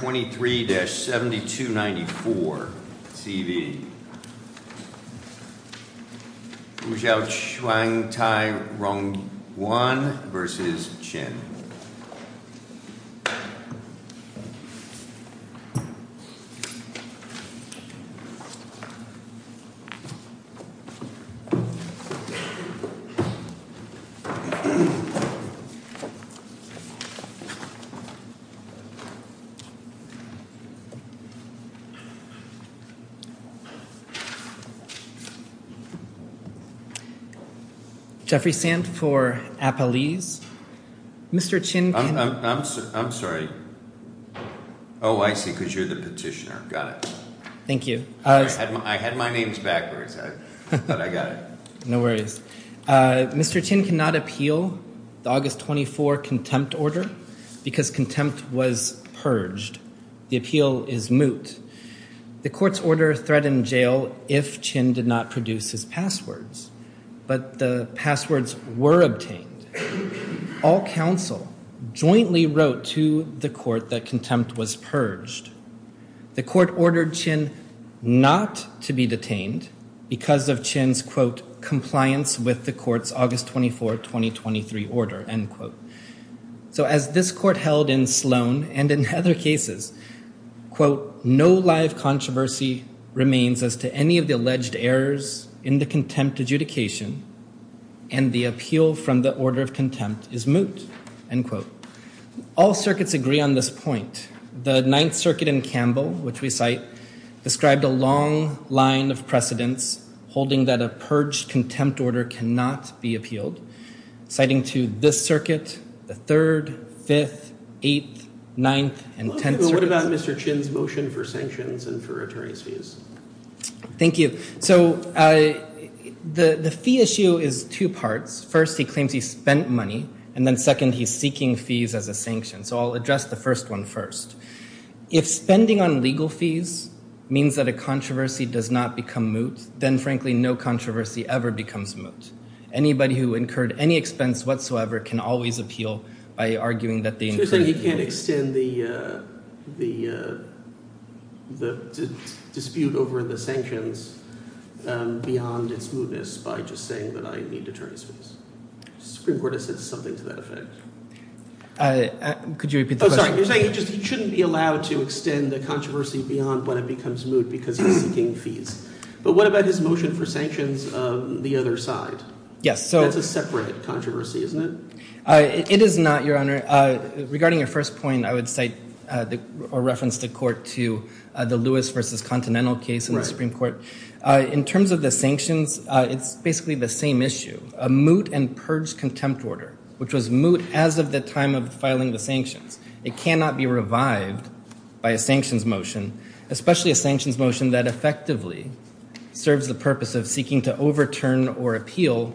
123-7294, CV, Huzhou Chuangtai Rongyuan versus Qin. Jeffrey Sand for Appalese. Mr. Qin can. I'm sorry. Oh, I see, because you're the petitioner. Got it. Thank you. I had my names backwards, but I got it. No worries. Mr. Qin cannot appeal the August 24 contempt order because contempt was purged. The appeal is moot. The court's order threatened jail if Qin did not produce his passwords, but the passwords were obtained. All counsel jointly wrote to the court that contempt was purged. The court ordered Qin not to be detained because of Qin's, quote, compliance with the court's August 24, 2023 order, end quote. So as this court held in Sloan and in other cases, quote, no live controversy remains as to any of the alleged errors in the contempt adjudication and the appeal from the order of contempt is moot, end quote. All circuits agree on this point. The Ninth Circuit in Campbell, which we cite, described a long line of precedents holding that a purged contempt order cannot be appealed, citing to this circuit, the Third, Fifth, Eighth, Ninth, and Tenth Circuits. What about Mr. Qin's motion for sanctions and for attorney's fees? Thank you. So the fee issue is two parts. First, he claims he spent money, and then second, he's seeking fees as a sanction. So I'll address the first one first. If spending on legal fees means that a controversy does not become moot, then frankly, no controversy ever becomes moot. Anybody who incurred any expense whatsoever can always appeal by arguing that they incurred fees. So you're saying he can't extend the dispute over the sanctions beyond its mootness by just saying that I need attorney's fees? The Supreme Court has said something to that effect. Could you repeat the question? Oh, sorry. You're saying he shouldn't be allowed to extend the controversy beyond when it becomes moot because he's seeking fees. But what about his motion for sanctions on the other side? Yes. That's a separate controversy, isn't it? It is not, Your Honor. Regarding your first point, I would cite or reference the court to the Lewis v. Continental case in the Supreme Court. In terms of the sanctions, it's basically the same issue. A moot and purge contempt order, which was moot as of the time of filing the sanctions. It cannot be revived by a sanctions motion, especially a sanctions motion that effectively serves the purpose of seeking to overturn or appeal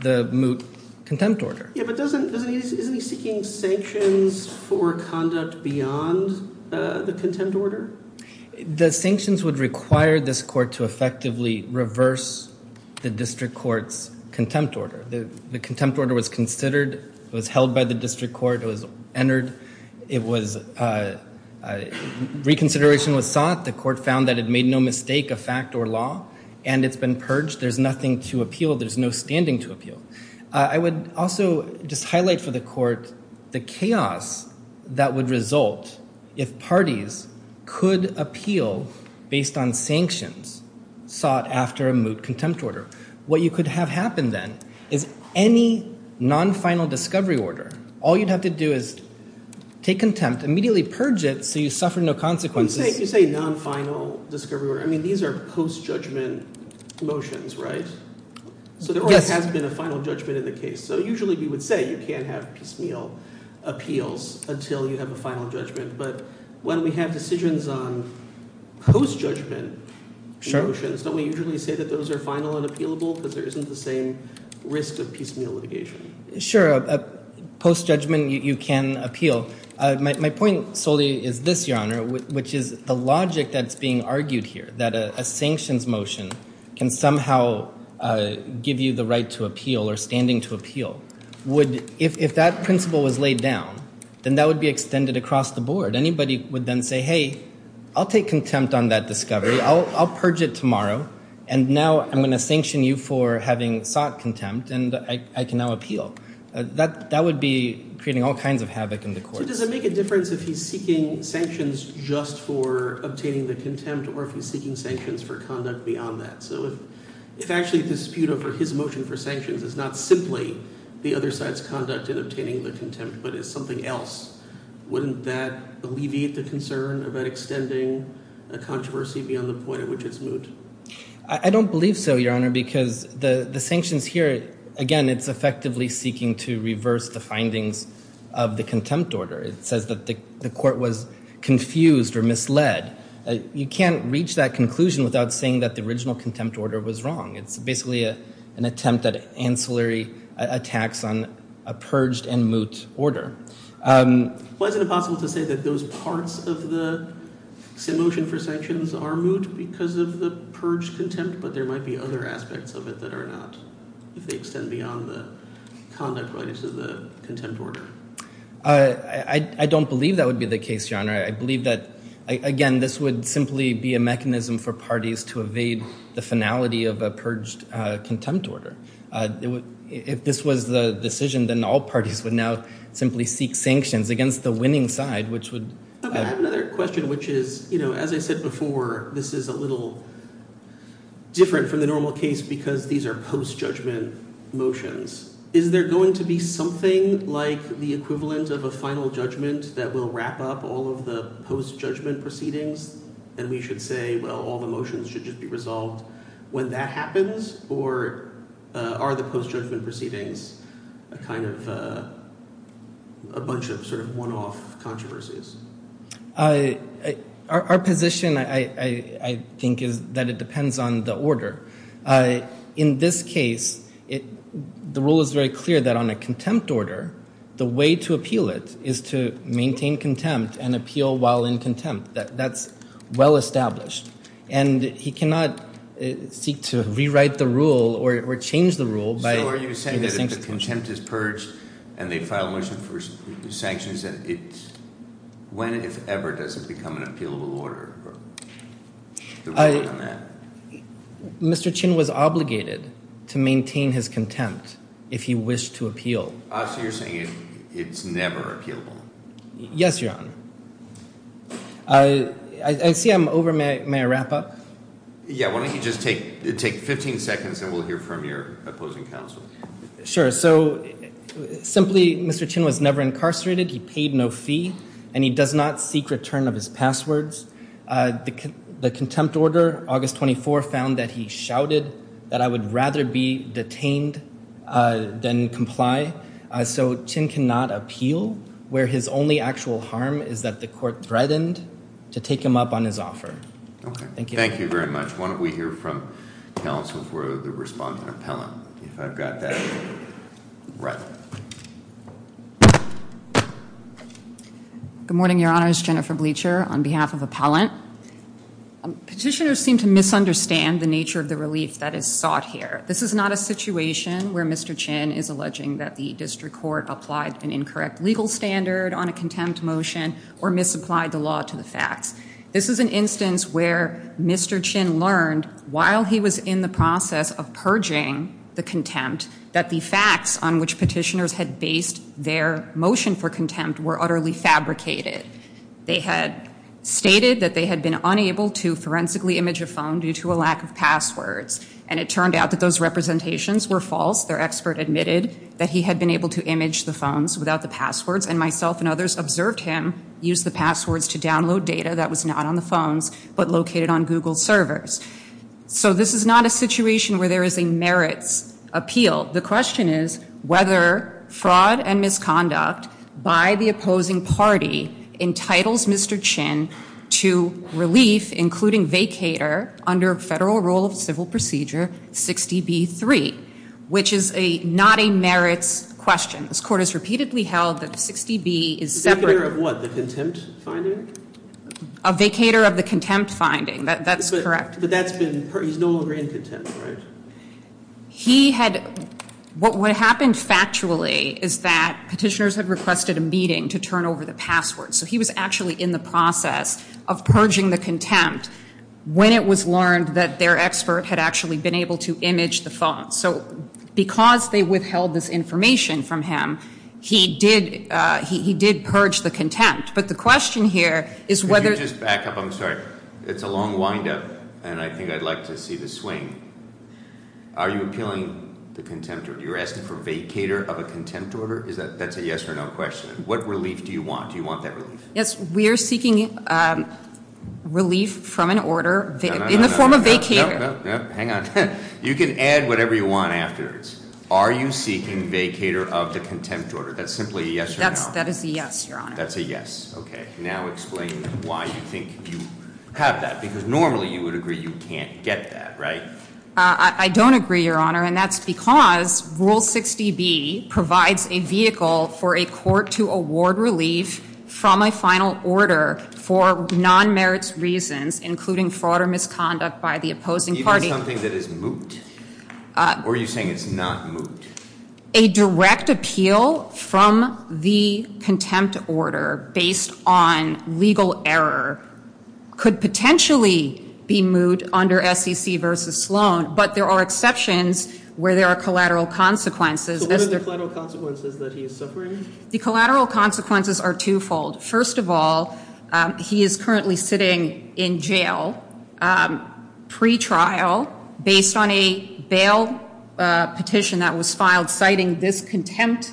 the moot contempt order. Yeah, but isn't he seeking sanctions for conduct beyond the contempt order? The sanctions would require this court to effectively reverse the district court's contempt order. The contempt order was considered, was held by the district court, it was entered, reconsideration was sought. The court found that it made no mistake of fact or law, and it's been purged. There's nothing to appeal. There's no standing to appeal. I would also just highlight for the court the chaos that would result if parties could appeal based on sanctions sought after a moot contempt order. What you could have happen then is any non-final discovery order, all you'd have to do is take contempt, immediately purge it so you suffer no consequences. When you say non-final discovery order, I mean, these are post-judgment motions, right? Yes. So there has been a final judgment in the case. So usually we would say you can't have piecemeal appeals until you have a final judgment, but when we have decisions on post-judgment motions, don't we usually say that those are final and appealable because there isn't the same risk of piecemeal litigation? Sure, post-judgment you can appeal. My point solely is this, Your Honor, which is the logic that's being argued here, that a sanctions motion can somehow give you the right to appeal or standing to appeal. If that principle was laid down, then that would be extended across the board. Anybody would then say, hey, I'll take contempt on that discovery. I'll purge it tomorrow, and now I'm going to sanction you for having sought contempt and I can now appeal. That would be creating all kinds of havoc in the courts. So does it make a difference if he's seeking sanctions just for obtaining the contempt or if he's seeking sanctions for conduct beyond that? So if actually a dispute over his motion for sanctions is not simply the other side's conduct in obtaining the contempt but is something else, wouldn't that alleviate the concern about extending a controversy beyond the point at which it's moot? I don't believe so, Your Honor, because the sanctions here, again, it's effectively seeking to reverse the findings of the contempt order. It says that the court was confused or misled. You can't reach that conclusion without saying that the original contempt order was wrong. It's basically an attempt at ancillary attacks on a purged and moot order. Why is it impossible to say that those parts of the motion for sanctions are moot because of the purged contempt, but there might be other aspects of it that are not, if they extend beyond the conduct related to the contempt order? I don't believe that would be the case, Your Honor. I believe that, again, this would simply be a mechanism for parties to evade the finality of a purged contempt order. If this was the decision, then all parties would now simply seek sanctions against the winning side, which would. I have another question, which is, you know, as I said before, this is a little different from the normal case because these are post-judgment motions. Is there going to be something like the equivalent of a final judgment that will wrap up all of the post-judgment proceedings, and we should say, well, all the motions should just be resolved when that happens? Or are the post-judgment proceedings a kind of a bunch of sort of one-off controversies? Our position, I think, is that it depends on the order. In this case, the rule is very clear that on a contempt order, the way to appeal it is to maintain contempt and appeal while in contempt. That's well-established. And he cannot seek to rewrite the rule or change the rule by giving sanctions. So are you saying that if the contempt is purged and they file a motion for sanctions, when, if ever, does it become an appealable order, or the ruling on that? Mr. Chin was obligated to maintain his contempt if he wished to appeal. So you're saying it's never appealable? Yes, Your Honor. I see I'm over. May I wrap up? Yeah. Why don't you just take 15 seconds, and we'll hear from your opposing counsel. Sure. So simply, Mr. Chin was never incarcerated. He paid no fee, and he does not seek return of his passwords. The contempt order, August 24, found that he shouted that I would rather be detained than comply. So Chin cannot appeal, where his only actual harm is that the court threatened to take him up on his offer. Okay. Thank you. Thank you very much. Why don't we hear from counsel for the respondent appellant, if I've got that right. Good morning, Your Honors. Jennifer Bleacher on behalf of appellant. Petitioners seem to misunderstand the nature of the relief that is sought here. This is not a situation where Mr. Chin is alleging that the district court applied an incorrect legal standard on a contempt motion, or misapplied the law to the facts. This is an instance where Mr. Chin learned, while he was in the process of purging the contempt, that the facts on which petitioners had based their motion for contempt were utterly fabricated. They had stated that they had been unable to forensically image a phone due to a lack of passwords, and it turned out that those representations were false. Their expert admitted that he had been able to image the phones without the passwords, and myself and others observed him use the passwords to download data that was not on the phones, but located on Google servers. So this is not a situation where there is a merits appeal. The question is whether fraud and misconduct by the opposing party entitles Mr. Chin to relief, including vacator, under federal rule of civil procedure 60B3, which is not a merits question. This court has repeatedly held that 60B is separate. A vacator of what, the contempt finding? A vacator of the contempt finding, that's correct. But that's been, he's no longer in contempt, right? He had, what happened factually is that petitioners had requested a meeting to turn over the passwords. So he was actually in the process of purging the contempt when it was learned that their expert had actually been able to image the phones. So because they withheld this information from him, he did purge the contempt. But the question here is whether. Could you just back up, I'm sorry. It's a long wind up, and I think I'd like to see the swing. Are you appealing the contempt order? You're asking for vacator of a contempt order? Is that, that's a yes or no question. What relief do you want? Do you want that relief? Yes, we are seeking relief from an order in the form of vacator. No, no, no, hang on. You can add whatever you want afterwards. Are you seeking vacator of the contempt order? That's simply a yes or no. That is a yes, your honor. That's a yes, okay. Now explain why you think you have that, because normally you would agree you can't get that, right? I don't agree, your honor, and that's because rule 60B provides a vehicle for a court to award relief from a final order for non-merits reasons, including fraud or misconduct by the opposing party. Is it something that is moot, or are you saying it's not moot? A direct appeal from the contempt order based on legal error could potentially be moot under SEC versus Sloan, but there are exceptions where there are collateral consequences. So what are the collateral consequences that he is suffering? The collateral consequences are twofold. First of all, he is currently sitting in jail pre-trial based on a bail petition that was filed, citing this contempt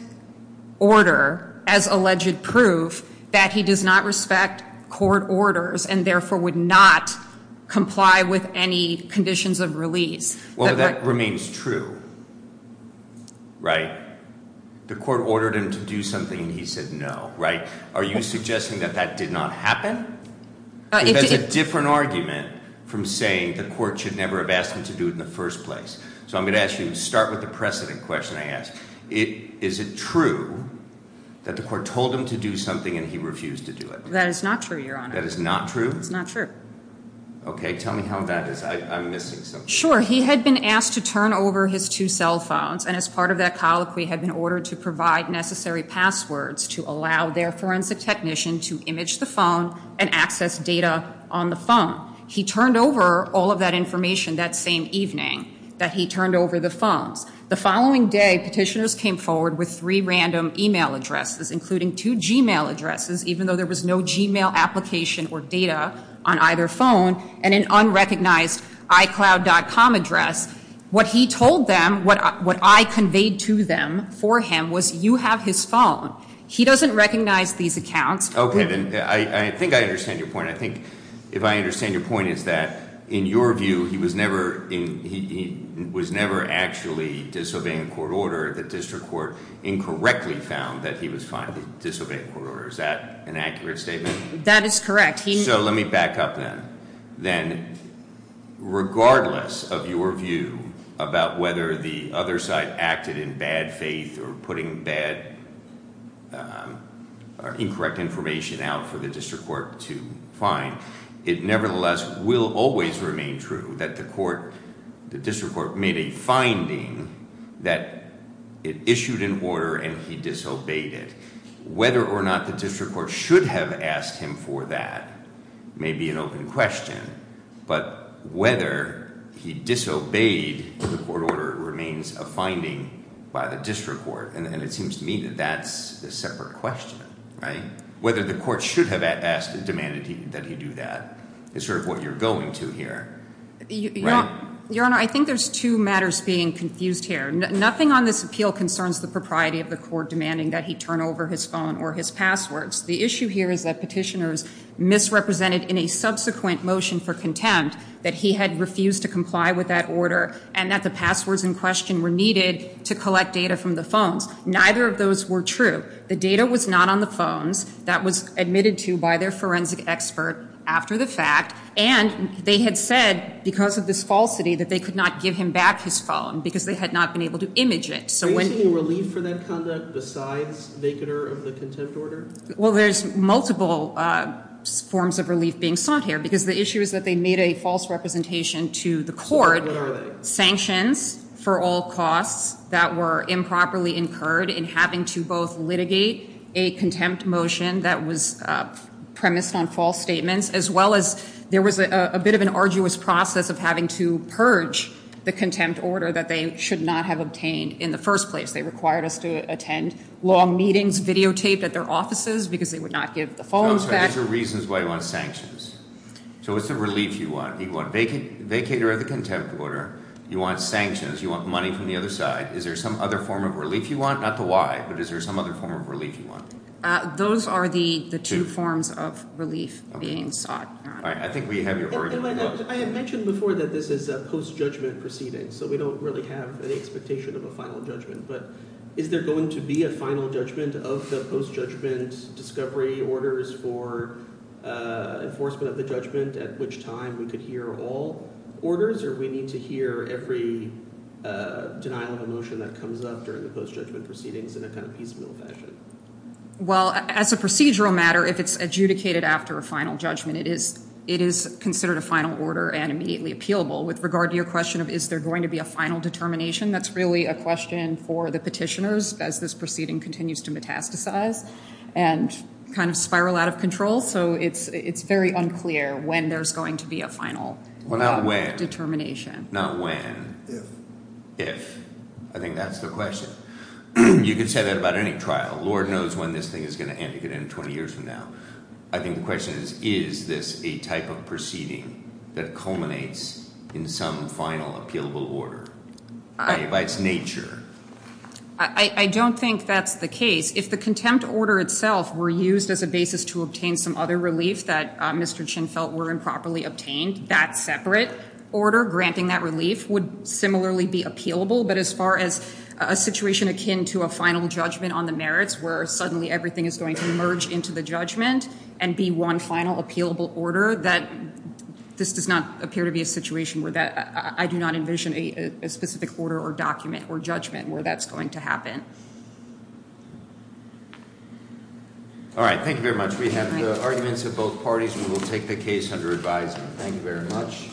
order as alleged proof that he does not respect court orders, and therefore would not comply with any conditions of release. Well, that remains true, right? The court ordered him to do something, and he said no, right? Are you suggesting that that did not happen? That's a different argument from saying the court should never have asked him to do it in the first place. So I'm going to ask you to start with the precedent question I asked. Is it true that the court told him to do something and he refused to do it? That is not true, your honor. That is not true? It's not true. Okay, tell me how that is. I'm missing something. Sure, he had been asked to turn over his two cell phones, and as part of that colloquy, they had been ordered to provide necessary passwords to allow their forensic technician to image the phone and access data on the phone. He turned over all of that information that same evening, that he turned over the phones. The following day, petitioners came forward with three random email addresses, including two Gmail addresses, even though there was no Gmail application or data on either phone, and an unrecognized iCloud.com address. What he told them, what I conveyed to them for him, was you have his phone. He doesn't recognize these accounts. Okay, then I think I understand your point. I think if I understand your point is that in your view, he was never actually disobeying court order. The district court incorrectly found that he was finally disobeying court order. Is that an accurate statement? That is correct. So let me back up then. Then, regardless of your view about whether the other side acted in bad faith or putting bad or incorrect information out for the district court to find, it nevertheless will always remain true that the court, the district court made a finding that it issued an order and he disobeyed it. Whether or not the district court should have asked him for that may be an open question. But whether he disobeyed the court order remains a finding by the district court. And it seems to me that that's a separate question, right? Whether the court should have asked and demanded that he do that is sort of what you're going to here. Your Honor, I think there's two matters being confused here. Nothing on this appeal concerns the propriety of the court demanding that he turn over his phone or his passwords. The issue here is that petitioners misrepresented in a subsequent motion for contempt that he had refused to comply with that order. And that the passwords in question were needed to collect data from the phones. Neither of those were true. The data was not on the phones. That was admitted to by their forensic expert after the fact. And they had said, because of this falsity, that they could not give him back his phone, because they had not been able to image it. So when- Are you seeing relief for that conduct besides vacater of the contempt order? Well, there's multiple forms of relief being sought here. Because the issue is that they made a false representation to the court. So what are they? Sanctions for all costs that were improperly incurred in having to both litigate a contempt motion that was premised on false statements, as well as there was a bit of an arduous process of having to purge the contempt order that they should not have obtained in the first place. They required us to attend long meetings videotaped at their offices, because they would not give the phones back. Those are reasons why you want sanctions. So what's the relief you want? You want vacater of the contempt order, you want sanctions, you want money from the other side. Is there some other form of relief you want? Not the why, but is there some other form of relief you want? Those are the two forms of relief being sought. All right, I think we have your- I had mentioned before that this is a post-judgment proceeding. So we don't really have any expectation of a final judgment. But is there going to be a final judgment of the post-judgment discovery orders for enforcement of the judgment at which time we could hear all orders? Or do we need to hear every denial of a motion that comes up during the post-judgment proceedings in a kind of piecemeal fashion? Well, as a procedural matter, if it's adjudicated after a final judgment, it is considered a final order and immediately appealable. With regard to your question of is there going to be a final determination, that's really a question for the petitioners, as this proceeding continues to metastasize and kind of spiral out of control. So it's very unclear when there's going to be a final- Well, not when. Determination. Not when. If. If. I think that's the question. You could say that about any trial. Lord knows when this thing is going to end. It could end 20 years from now. I think the question is, is this a type of proceeding that culminates in some final appealable order by its nature? I don't think that's the case. If the contempt order itself were used as a basis to obtain some other relief that Mr. Chin felt were improperly obtained, that separate order granting that relief would similarly be appealable. But as far as a situation akin to a final judgment on the merits where suddenly everything is going to merge into the judgment and be one final appealable order, this does not appear to be a situation where that- All right. Thank you very much. We have the arguments of both parties. We will take the case under advisement. Thank you very much.